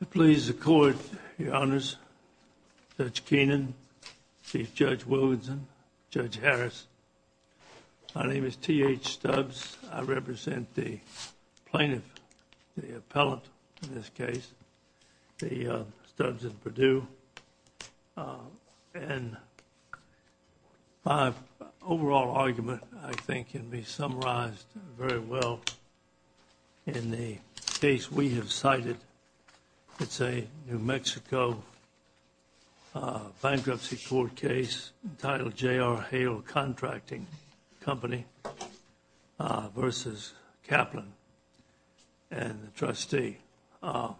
It pleases the court, your honors, Judge Keenan, Chief Judge Wilkinson, Judge Harris, my name is T.H. Stubbs, I represent the plaintiff, the appellant in this case, the Stubbs & Perdue, and my overall argument, I think, can be summarized very well in the case we have cited. It's a New Mexico bankruptcy court case entitled J.R. Hale Contracting Company v. Kaplan and the trustee. Your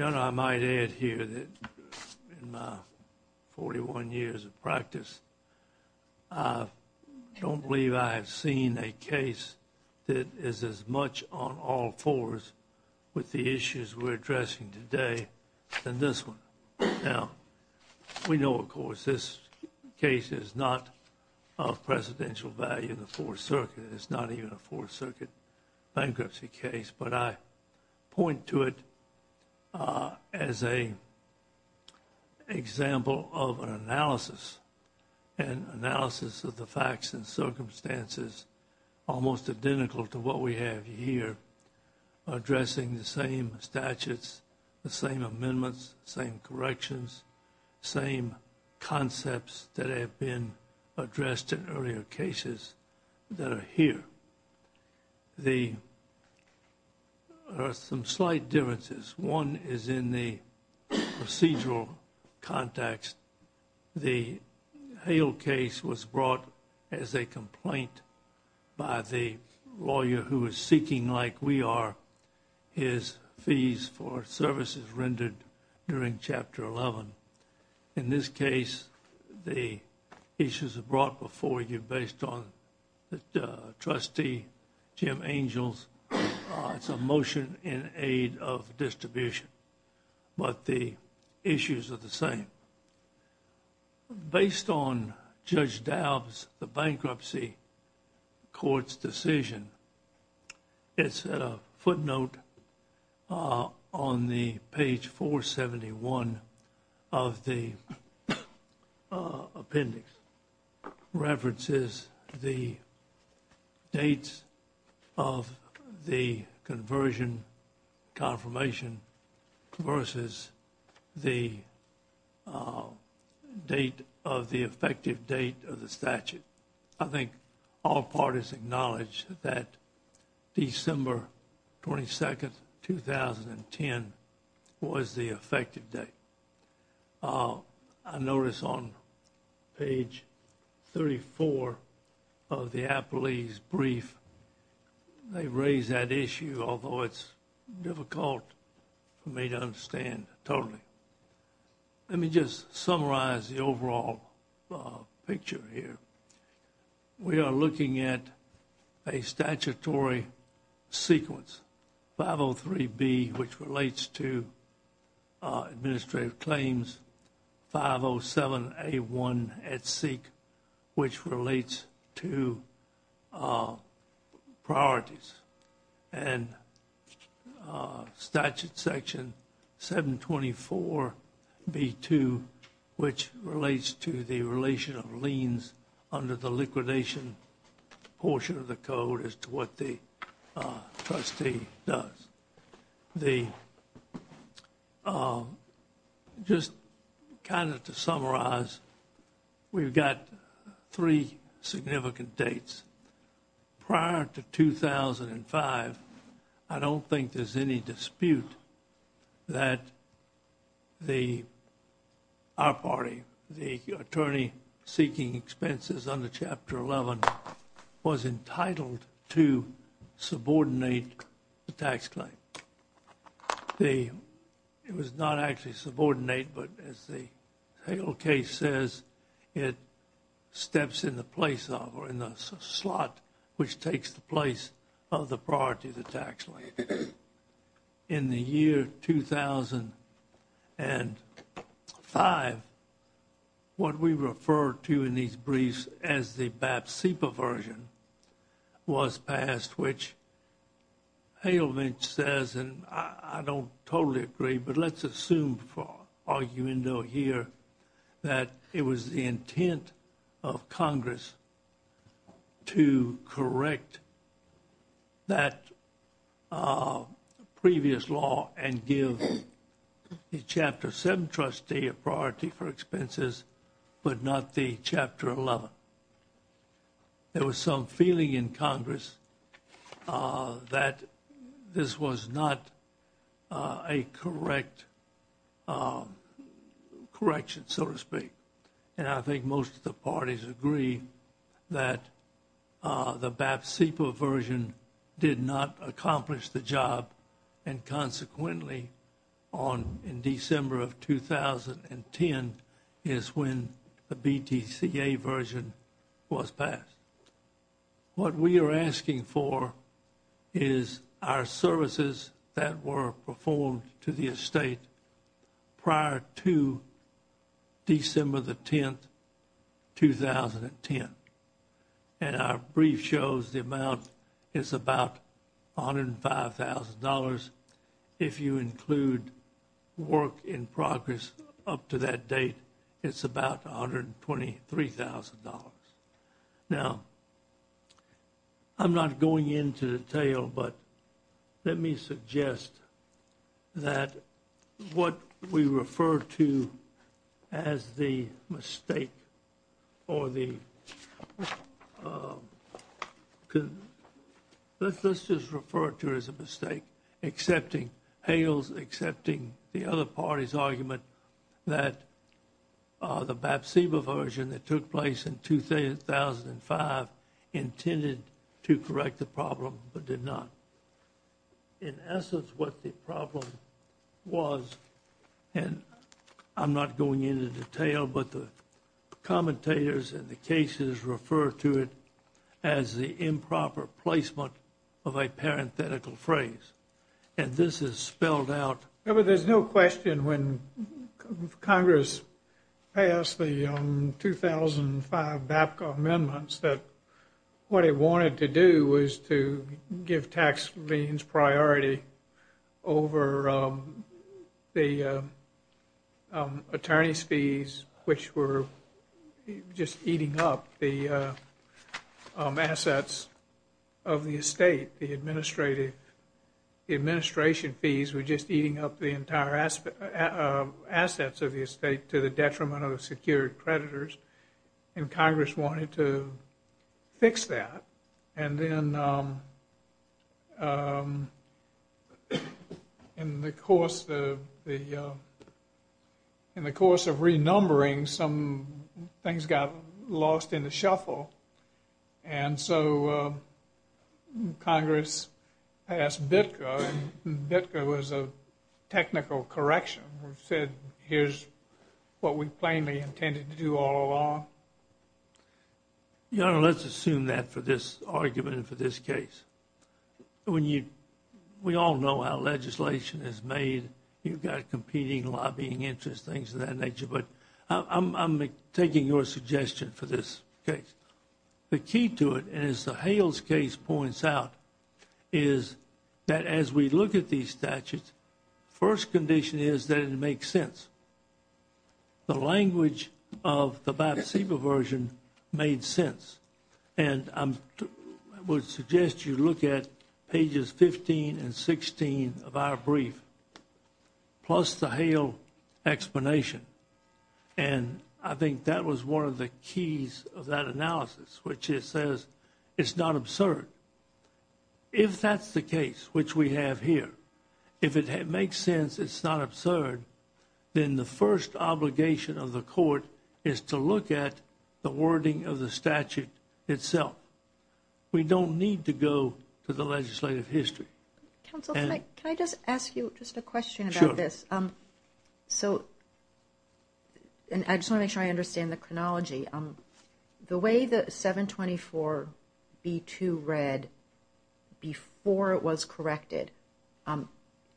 honor, I might add here that in my 41 years of practice, I don't believe I have seen a case that is as much on all fours with the issues we're addressing today than this one. Now, we know, of course, this case is not of presidential value in the Fourth Circuit, it's not even a Fourth Circuit bankruptcy case, but I point to it as an example of an analysis, an analysis of the facts and circumstances almost identical to what we have here, addressing the same statutes, the same amendments, the same corrections, the same concepts that have been addressed in earlier cases that are here. There are some slight differences. One is in the procedural context. The Hale case was brought as a complaint by the lawyer who is seeking, like we are, his fees for services rendered during Chapter 11. In this case, the issues are brought before you based on the trustee, Jim Angells, some motion in aid of distribution, but the issues are the same. Based on Judge Daub's, the bankruptcy court's decision, it's a footnote on the page 471 of the appendix, references the dates of the conversion confirmation versus the date of the effective date of the statute. I think all parties acknowledge that December 22nd, 2010 was the effective date. I notice on page 34 of the appellee's brief, they raise that issue, although it's difficult for me to understand totally. Let me just summarize the overall picture here. We are looking at a statutory sequence, 503B, which relates to administrative claims, 507A1 at seek, which relates to priorities. And statute section 724B2, which relates to the relation of liens under the liquidation portion of the code as to what the trustee does. The, just kind of to summarize, we've got three significant dates. Prior to 2005, I don't think there's any dispute that the, our party, the attorney seeking expenses under Chapter 11 was entitled to subordinate the tax claim. The, it was not actually subordinate, but as the Hale case says, it steps in the place of, or in the slot which takes the place of the priority of the tax claim. In the year 2005, what we refer to in these briefs as the BAP-CIPA version was passed, which Halevich says, and I don't totally agree, but let's assume for argument here, that it was the intent of Congress to correct that previous law and give the Chapter 7 trustee a priority for expenses, but not the Chapter 11. There was some feeling in Congress that this was not a correct, correction, so to speak, and I think most of the parties agree that the BAP-CIPA version did not accomplish the job. And consequently, on, in December of 2010 is when the BTCA version was passed. What we are asking for is our services that were performed to the estate prior to December the 10th, 2010. And our brief shows the amount is about $105,000. If you include work in progress up to that date, it's about $123,000. Now, I'm not going into detail, but let me suggest that what we refer to as the mistake or the, let's just refer to it as a mistake, excepting, Hale's excepting the other party's argument that the BAP-CIPA version that took place in 2005 intended to correct the problem, but did not. In essence, what the problem was, and I'm not going into detail, but the commentators and the cases refer to it as the improper placement of a parenthetical phrase. And this is spelled out. There's no question when Congress passed the 2005 BAPCA amendments that what it wanted to do was to give tax liens priority over the attorney's fees, which were just eating up the assets of the estate. The administration fees were just eating up the entire assets of the estate to the detriment of the secured creditors, and Congress wanted to fix that. And then, in the course of renumbering, some things got lost in the shuffle, and so Congress passed BIPCA, and BIPCA was a technical correction. It said, here's what we plainly intended to do all along. Your Honor, let's assume that for this argument and for this case. When you, we all know how legislation is made. You've got competing lobbying interests, things of that nature, but I'm taking your suggestion for this case. The key to it, and as the Hale's case points out, is that as we look at these statutes, first condition is that it makes sense. The language of the BIPCA version made sense, and I would suggest you look at pages 15 and 16 of our brief, plus the Hale explanation. And I think that was one of the keys of that analysis, which it says, it's not absurd. If that's the case, which we have here, if it makes sense, it's not absurd, then the first obligation of the court is to look at the wording of the statute itself. We don't need to go to the legislative history. Counsel, can I just ask you just a question about this? Sure. So, and I just want to make sure I understand the chronology. The way that 724b2 read before it was corrected,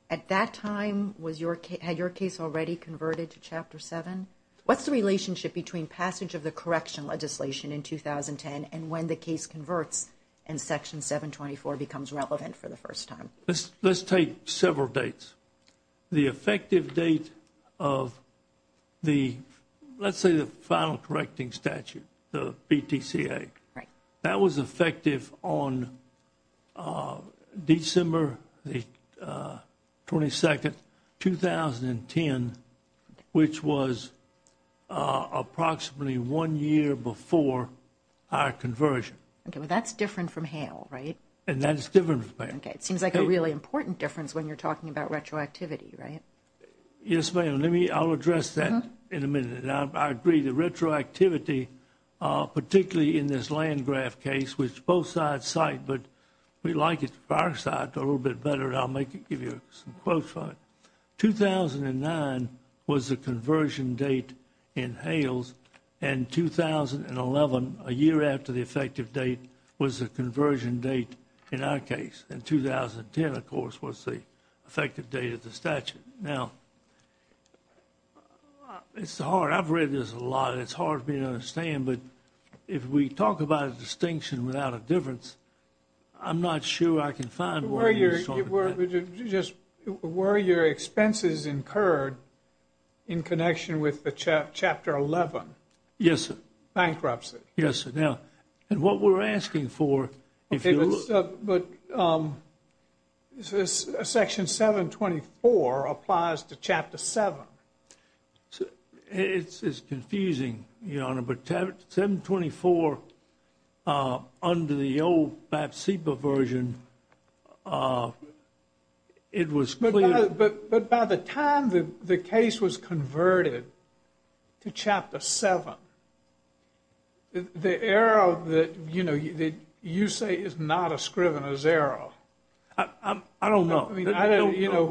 at that time, was your, had your case already converted to Chapter 7? What's the relationship between passage of the correction legislation in 2010 and when the case converts and Section 724 becomes relevant for the first time? Let's take several dates. The effective date of the, let's say, the final correcting statute, the BTCA. Right. That was effective on December the 22nd, 2010, which was approximately one year before our conversion. Okay, but that's different from Hale, right? And that's different from Hale. It seems like a really important difference when you're talking about retroactivity, right? Yes, ma'am. Let me, I'll address that in a minute. Now, I agree that retroactivity, particularly in this Landgraf case, which both sides cite, but we like it, our side, a little bit better. I'll make it, give you some quotes for it. 2009 was the conversion date in Hale's, and 2011, a year after the effective date, was the conversion date in our case. And 2010, of course, was the effective date of the statute. Now, it's hard. I've read this a lot. It's hard for me to understand, but if we talk about a distinction without a difference, I'm not sure I can find where you're talking about. Were your expenses incurred in connection with the Chapter 11? Yes, sir. Bankruptcy. Yes, sir. Now, and what we're asking for, if you look. But Section 724 applies to Chapter 7. It's confusing, Your Honor, but 724, under the old BAP-CEPA version, it was clear. But by the time the case was converted to Chapter 7, the era that you say is not a Scrivener's era. I don't know. I mean, I don't, you know.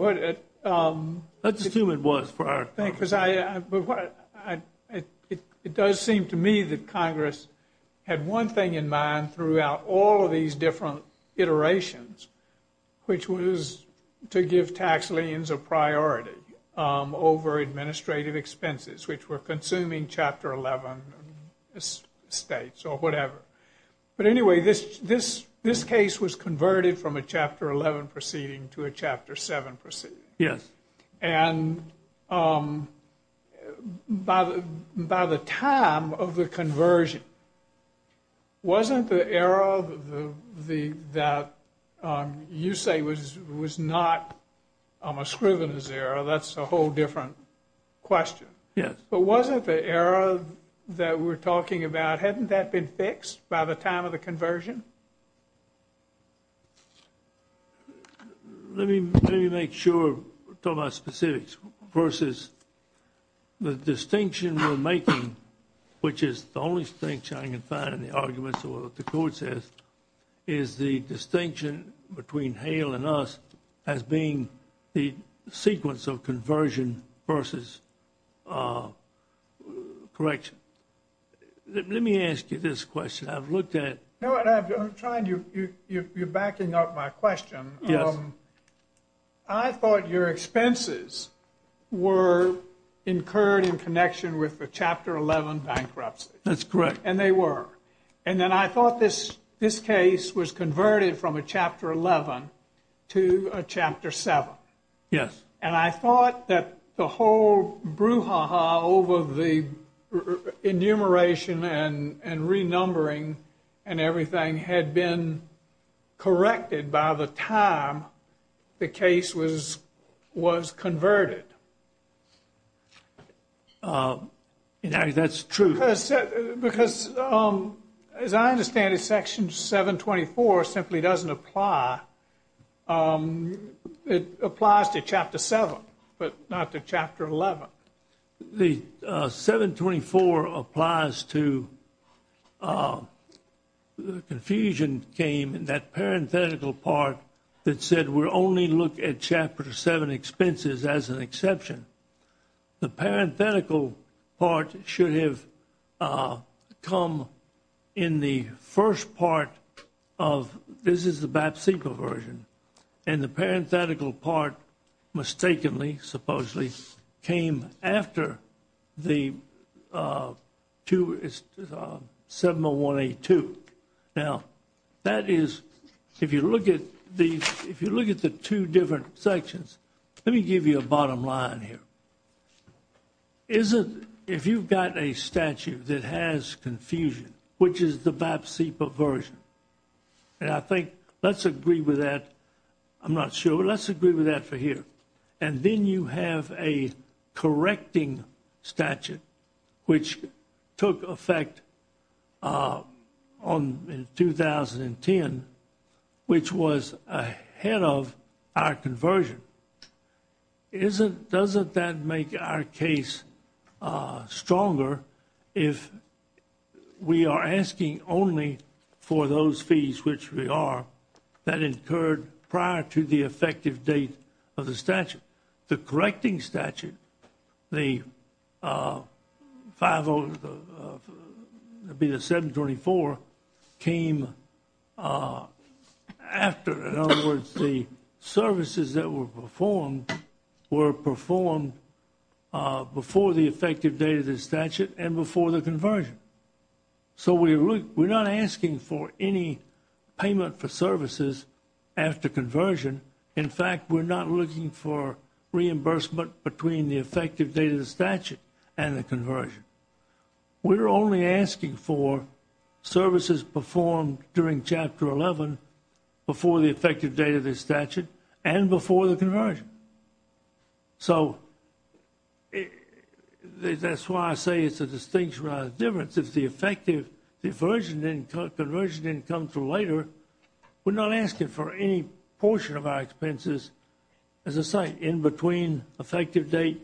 Let's assume it was for our purposes. Because I, it does seem to me that Congress had one thing in mind throughout all of these different iterations, which was to give tax liens a priority over administrative expenses, which were consuming Chapter 11 estates or whatever. But anyway, this case was converted from a Chapter 11 proceeding to a Chapter 7 proceeding. Yes. And by the time of the conversion, wasn't the era that you say was not a Scrivener's era? That's a whole different question. Yes. But wasn't the era that we're talking about, hadn't that been fixed by the time of the conversion? Let me, let me make sure we're talking about specifics versus the distinction we're making, which is the only distinction I can find in the arguments or what the court says, is the distinction between Hale and us as being the sequence of conversion versus correction. Let me ask you this question. I've looked at. No, I'm trying to, you're backing up my question. Yes. I thought your expenses were incurred in connection with the Chapter 11 bankruptcy. That's correct. And they were. And then I thought this case was converted from a Chapter 11 to a Chapter 7. Yes. And I thought that the whole brouhaha over the enumeration and renumbering and everything had been corrected by the time the case was converted. That's true. Because as I understand it, Section 724 simply doesn't apply. It applies to Chapter 7, but not to Chapter 11. The 724 applies to the confusion came in that parenthetical part that said we're only look at Chapter 7 expenses as an exception. The parenthetical part should have come in the first part of, this is the BAPSIPA version. And the parenthetical part mistakenly, supposedly came after the 70182. Now, that is, if you look at the two different sections, let me give you a bottom line here. If you've got a statute that has confusion, which is the BAPSIPA version. And I think let's agree with that. I'm not sure. Let's agree with that for here. And then you have a correcting statute, which took effect in 2010, which was ahead of our conversion. But doesn't that make our case stronger if we are asking only for those fees, which we are, that incurred prior to the effective date of the statute? The correcting statute, the 5, that'd be the 724, came after. In other words, the services that were performed were performed before the effective date of the statute and before the conversion. So we're not asking for any payment for services after conversion. In fact, we're not looking for reimbursement between the effective date of the statute and the conversion. We're only asking for services performed during Chapter 11 before the effective date of the statute and before the conversion. So that's why I say it's a distinction rather than a difference. If the effective, the conversion didn't come through later, we're not asking for any portion of our expenses as a site in between effective date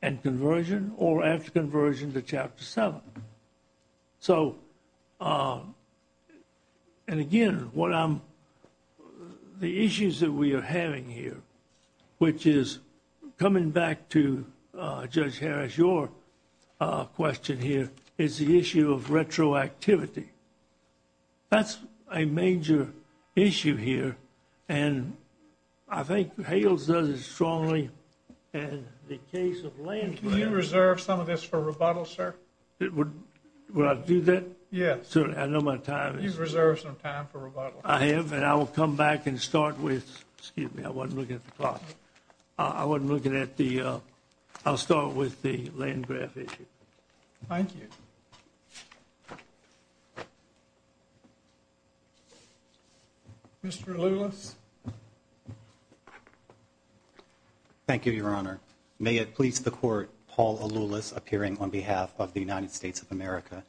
and conversion or after conversion to Chapter 7. So, and again, what I'm, the issues that we are having here, which is coming back to Judge Harris, your question here is the issue of retroactivity. That's a major issue here, and I think Hales does it strongly, and the case of Landgraf. Can you reserve some of this for rebuttal, sir? It would, would I do that? Yes. Certainly, I know my time is. You've reserved some time for rebuttal. I have, and I will come back and start with, excuse me, I wasn't looking at the clock. I wasn't looking at the, I'll start with the Landgraf issue. Thank you. Mr. Lulis. Thank you, Your Honor. May it please the Court, Paul Lulis, appearing on behalf of the United States of America,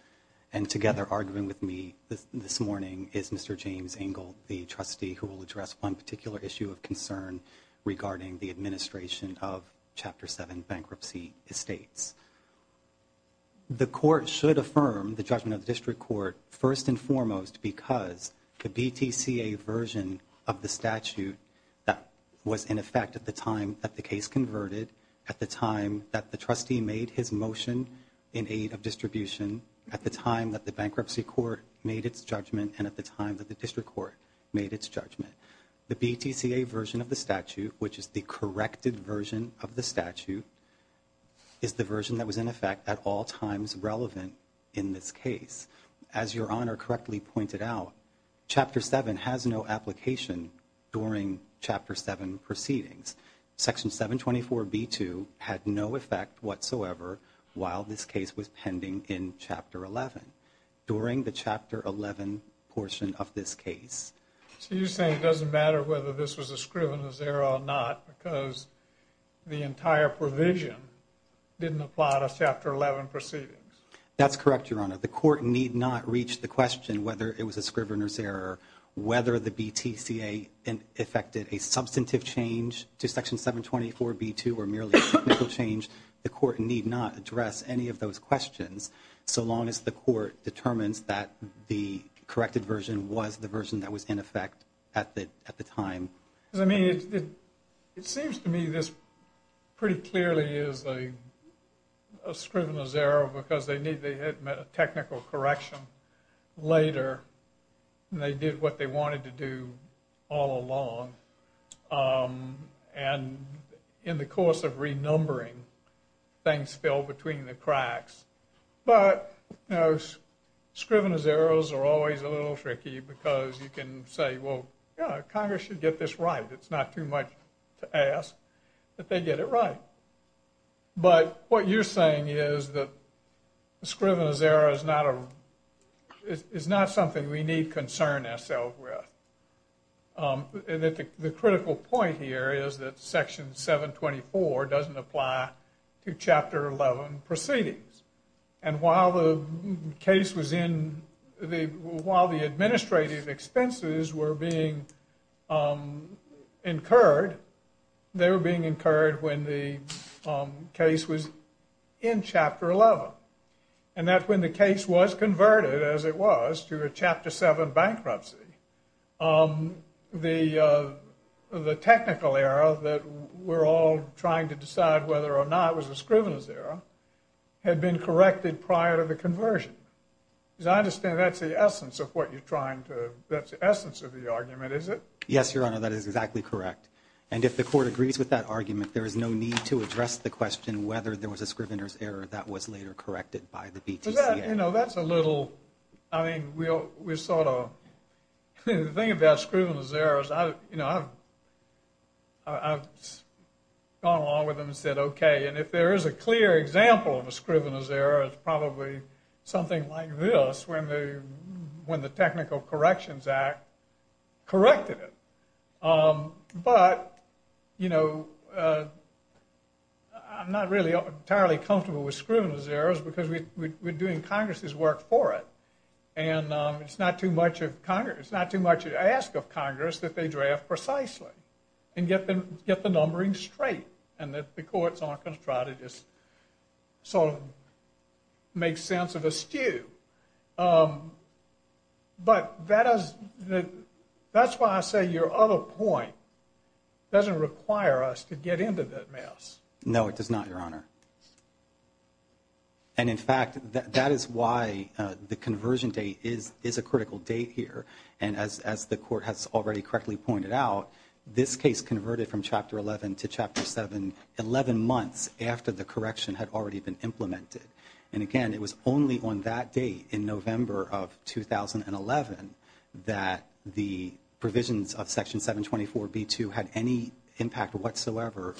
and together arguing with me this morning is Mr. James Engle, the trustee who will address one particular issue of concern regarding the administration of Chapter 7 bankruptcy estates. The Court should affirm the judgment of the District Court first and foremost because the BTCA version of the statute that was in effect at the time that the case converted, at the time that the trustee made his motion in aid of distribution, at the time that the bankruptcy court made its judgment, and at the time that the District Court made its judgment. The BTCA version of the statute, which is the corrected version of the statute, is the version that was in effect at all times relevant in this case. As Your Honor correctly pointed out, Chapter 7 has no application during Chapter 7 proceedings. Section 724B2 had no effect whatsoever while this case was pending in Chapter 11, during the Chapter 11 portion of this case. So you're saying it doesn't matter whether this was a scrivener's error or not because the entire provision didn't apply to Chapter 11 proceedings? That's correct, Your Honor. The Court need not reach the question whether it was a scrivener's error or whether the BTCA affected a substantive change to Section 724B2 or merely a technical change. The Court need not address any of those questions so long as the Court determines that the corrected version was the version that was in effect at the time. I mean, it seems to me this pretty clearly is a scrivener's error because they had met a technical correction later and they did what they wanted to do all along. And in the course of renumbering, things fell between the cracks. But, you know, scrivener's errors are always a little tricky because you can say, well, Congress should get this right. It's not too much to ask that they get it right. But what you're saying is that a scrivener's error is not something we need to concern ourselves with. And the critical point here is that Section 724 doesn't apply to Chapter 11 proceedings. And while the case was in the, while the administrative expenses were being incurred, they were being incurred when the case was in Chapter 11. And that's when the case was converted, as it was, to a Chapter 7 bankruptcy. The technical error that we're all trying to decide whether or not was a scrivener's error incorrected prior to the conversion. Because I understand that's the essence of what you're trying to, that's the essence of the argument, is it? Yes, Your Honor, that is exactly correct. And if the Court agrees with that argument, there is no need to address the question whether there was a scrivener's error that was later corrected by the BTCA. You know, that's a little, I mean, we'll, we sort of, the thing about scrivener's errors, I, you know, I've, I've gone along with them and said, okay, and if there is a clear example of a scrivener's error, it's probably something like this when the, when the Technical Corrections Act corrected it. But, you know, I'm not really entirely comfortable with scrivener's errors because we, we're doing Congress's work for it. And it's not too much of Congress, it's not too much to ask of Congress that they draft precisely and get them, get the numbering straight. And that the courts aren't going to try to just sort of make sense of a stew. But that is, that's why I say your other point doesn't require us to get into that mess. No, it does not, Your Honor. And in fact, that is why the conversion date is, is a critical date here. And as, as the Court has already correctly pointed out, this case converted from Chapter 11 to Chapter 7, 11 months after the correction had already been implemented. And again, it was only on that date in November of 2011 that the provisions of Section 724 B2 had any impact whatsoever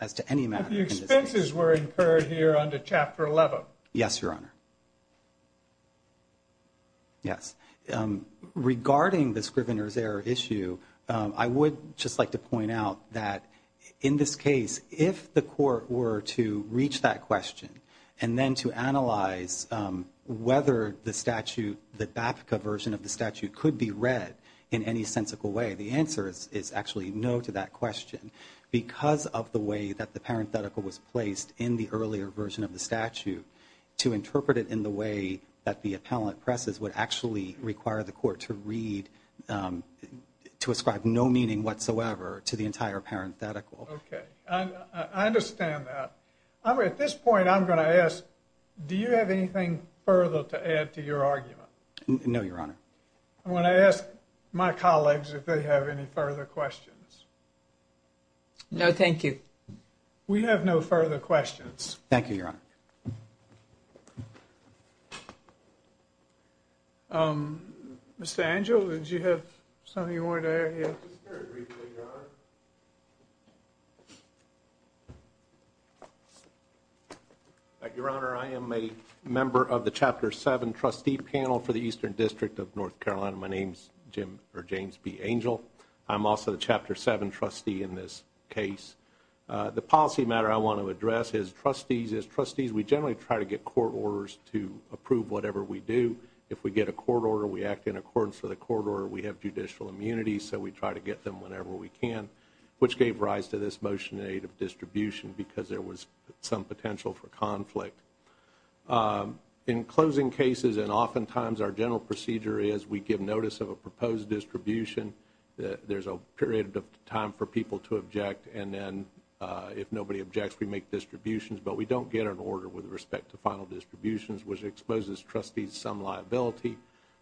as to any matter. But the expenses were incurred here under Chapter 11. Yes, Your Honor. Yes. Regarding the Scrivener's error issue, I would just like to point out that in this case, if the court were to reach that question and then to analyze whether the statute, the BAPCA version of the statute could be read in any sensical way, the answer is actually no to that question. Because of the way that the parenthetical was placed in the earlier version of the statute, to interpret it in the way that the appellant presses would actually require the court to read, to ascribe no meaning whatsoever to the entire parenthetical. Okay. I understand that. At this point, I'm going to ask, do you have anything further to add to your argument? No, Your Honor. I'm going to ask my colleagues if they have any further questions. No, thank you. We have no further questions. Thank you, Your Honor. Okay. Mr. Angel, did you have something you wanted to add here? Just very briefly, Your Honor. Your Honor, I am a member of the Chapter 7 trustee panel for the Eastern District of North Carolina. My name's James B. Angel. I'm also the Chapter 7 trustee in this case. The policy matter I want to address is trustees. Trustees, we generally try to get court orders to approve whatever we do. If we get a court order, we act in accordance with the court order. We have judicial immunity, so we try to get them whenever we can, which gave rise to this motion in aid of distribution because there was some potential for conflict. In closing cases, and oftentimes our general procedure is we give notice of a proposed distribution. There's a period of time for people to object, and then if nobody objects, we make distributions. But we don't get an order with respect to final distributions, which exposes trustees some liability.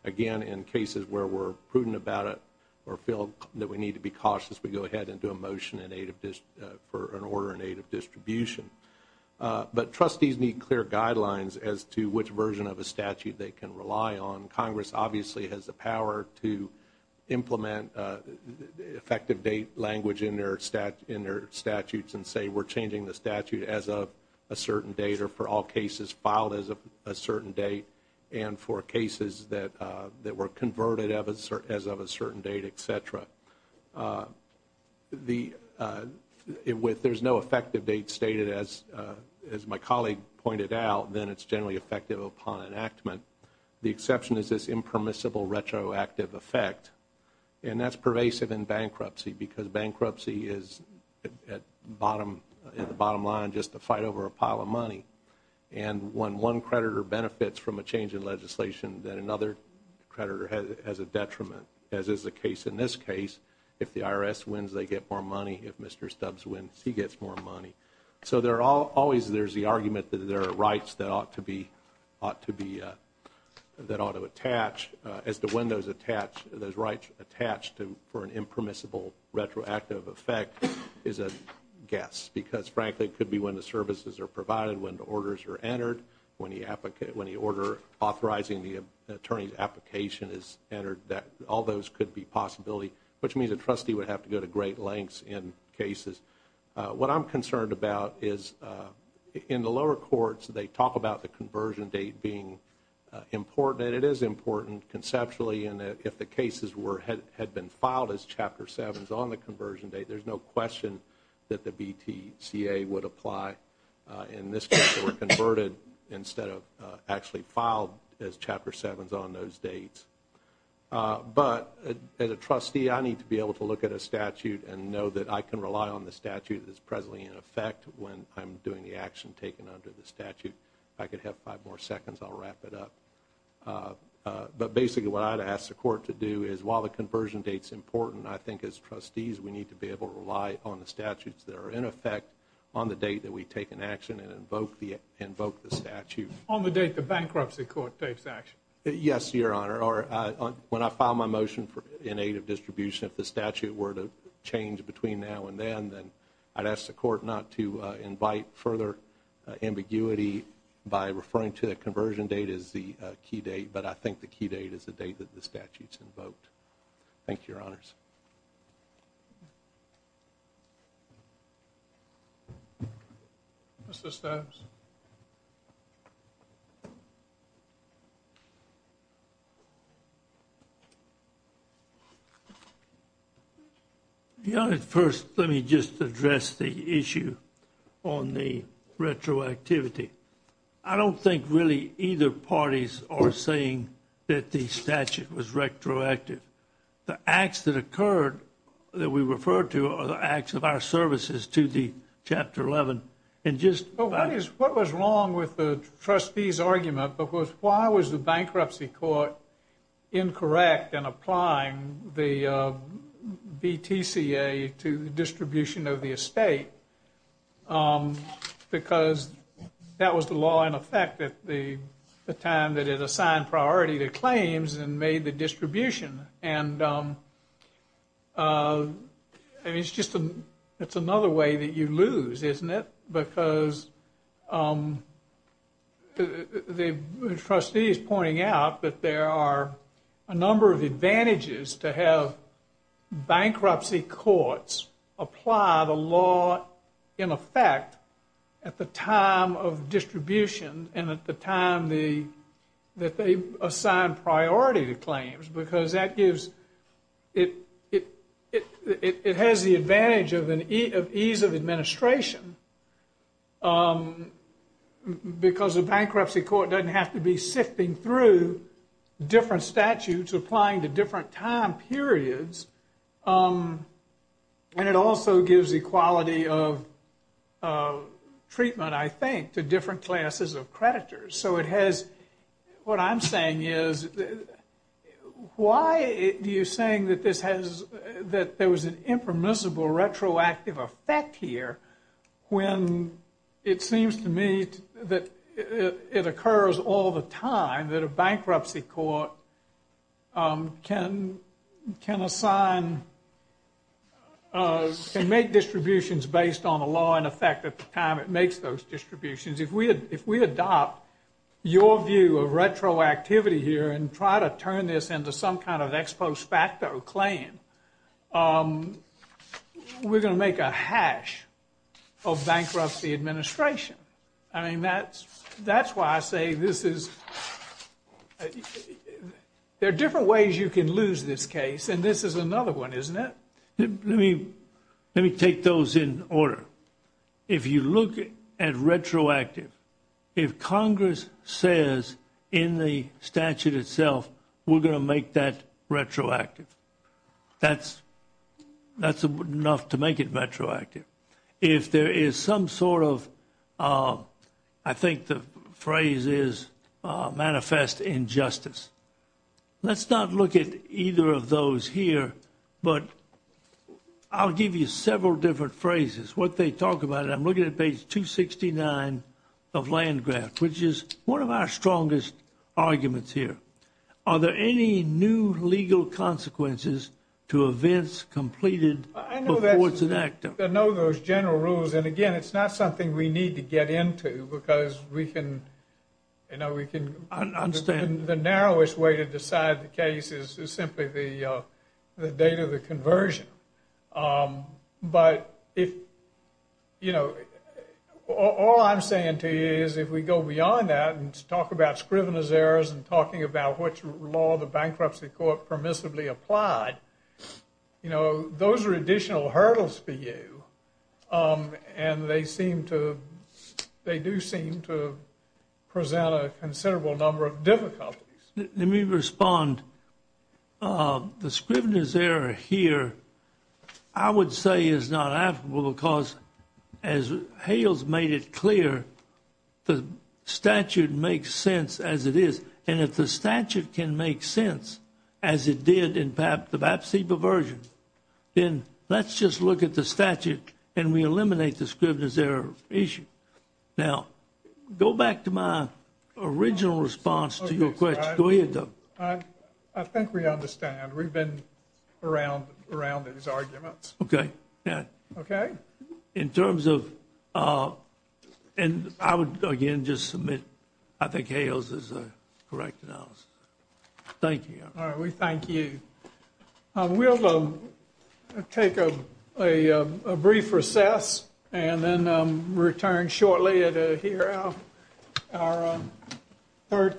Again, in cases where we're prudent about it or feel that we need to be cautious, we go ahead and do a motion for an order in aid of distribution. But trustees need clear guidelines as to which version of a statute they can rely on. Congress obviously has the power to implement effective date language in their statutes and say we're changing the statute as of a certain date or for all cases filed as of a certain date and for cases that were converted as of a certain date, et cetera. There's no effective date stated as my colleague pointed out, then it's generally effective upon enactment. The exception is this impermissible retroactive effect, and that's pervasive in bankruptcy because bankruptcy is at the bottom line just a fight over a pile of money. And when one creditor benefits from a change in legislation, then another creditor has a detriment, as is the case in this case. If the IRS wins, they get more money. If Mr. Stubbs wins, he gets more money. So there's the argument that there are rights that ought to attach as to when those rights attach for an impermissible retroactive effect is a guess. Because frankly, it could be when the services are provided, when the orders are entered, when the order authorizing the attorney's application is entered, that all those could be possibility, which means a trustee would have to go to great lengths in cases. What I'm concerned about is in the lower courts, they talk about the conversion date being important, and it is important conceptually, and if the cases had been filed as Chapter 7s on the conversion date, there's no question that the BTCA would apply. In this case, they were converted instead of actually filed as Chapter 7s on those dates. But as a trustee, I need to be able to look at a statute and know that I can rely on the statute that's presently in effect when I'm doing the action taken under the statute. If I could have five more seconds, I'll wrap it up. But basically, what I'd ask the court to do is while the conversion date's important, I think as trustees, we need to be able to rely on the statutes that are in effect on the date that we take an action and invoke the statute. On the date the bankruptcy court takes action. Yes, Your Honor. When I file my motion in aid of distribution, if the statute were to change between now and then, then I'd ask the court not to invite further ambiguity by referring to the conversion date as the key date. But I think the key date is the date that the statute's invoked. Thank you, Your Honors. Mr. Stavs? Your Honor, first, let me just address the issue on the retroactivity. I don't think really either parties are saying that the statute was retroactive. The acts that occurred that we referred to are the acts of our services to the Chapter 11. And just what is what was wrong with the trustee's argument? Because why was the bankruptcy court incorrect in applying the BTCA to the distribution of the estate? Because that was the law in effect at the time that it assigned priority to claims and made the distribution. And it's just it's another way that you lose, isn't it? Because the trustee is pointing out that there are a number of advantages to have bankruptcy courts apply the law in effect at the time of distribution and at the time that they assign priority to claims. Because it has the advantage of ease of administration because a bankruptcy court doesn't have to be sifting through different statutes applying to different time periods. And it also gives equality of treatment, I think, to different classes of creditors. So it has, what I'm saying is, why are you saying that this has, that there was an impermissible retroactive effect here when it seems to me that it occurs all the time that a bankruptcy court can assign, can make distributions based on the law in effect at the time it makes those distributions? If we adopt your view of retroactivity here and try to turn this into some kind of ex post facto claim, we're going to make a hash of bankruptcy administration. I mean, that's why I say this is, there are different ways you can lose this case. And this is another one, isn't it? Let me take those in order. If you look at retroactive, if Congress says in the statute itself, we're going to make that retroactive, that's enough to make it retroactive. If there is some sort of, I think the phrase is manifest injustice, let's not look at either of those here, but I'll give you several different phrases. What they talk about, and I'm looking at page 269 of Landgraft, which is one of our strongest arguments here. Are there any new legal consequences to events completed before it's enacted? I know those general rules. And again, it's not something we need to get into because we can, you know, we can, the narrowest way to decide the case is simply the date of the conversion. But if, you know, all I'm saying to you is if we go beyond that and talk about scrivener's errors and talking about which law the bankruptcy court permissibly applied, you know, those are additional hurdles for you. And they seem to, they do seem to present a considerable number of difficulties. Let me respond. The scrivener's error here, I would say is not applicable because as Hales made it clear, the statute makes sense as it is. And if the statute can make sense as it did in the BAPC perversion, then let's just look at the statute and we eliminate the scrivener's error issue. Now, go back to my original response to your question. Go ahead, Doug. I think we understand. We've been around these arguments. Okay. Yeah. Okay. In terms of, and I would again just submit, I think Hales is a correct analysis. Thank you. All right. We thank you. We'll take a brief recess and then return shortly to hear our third case.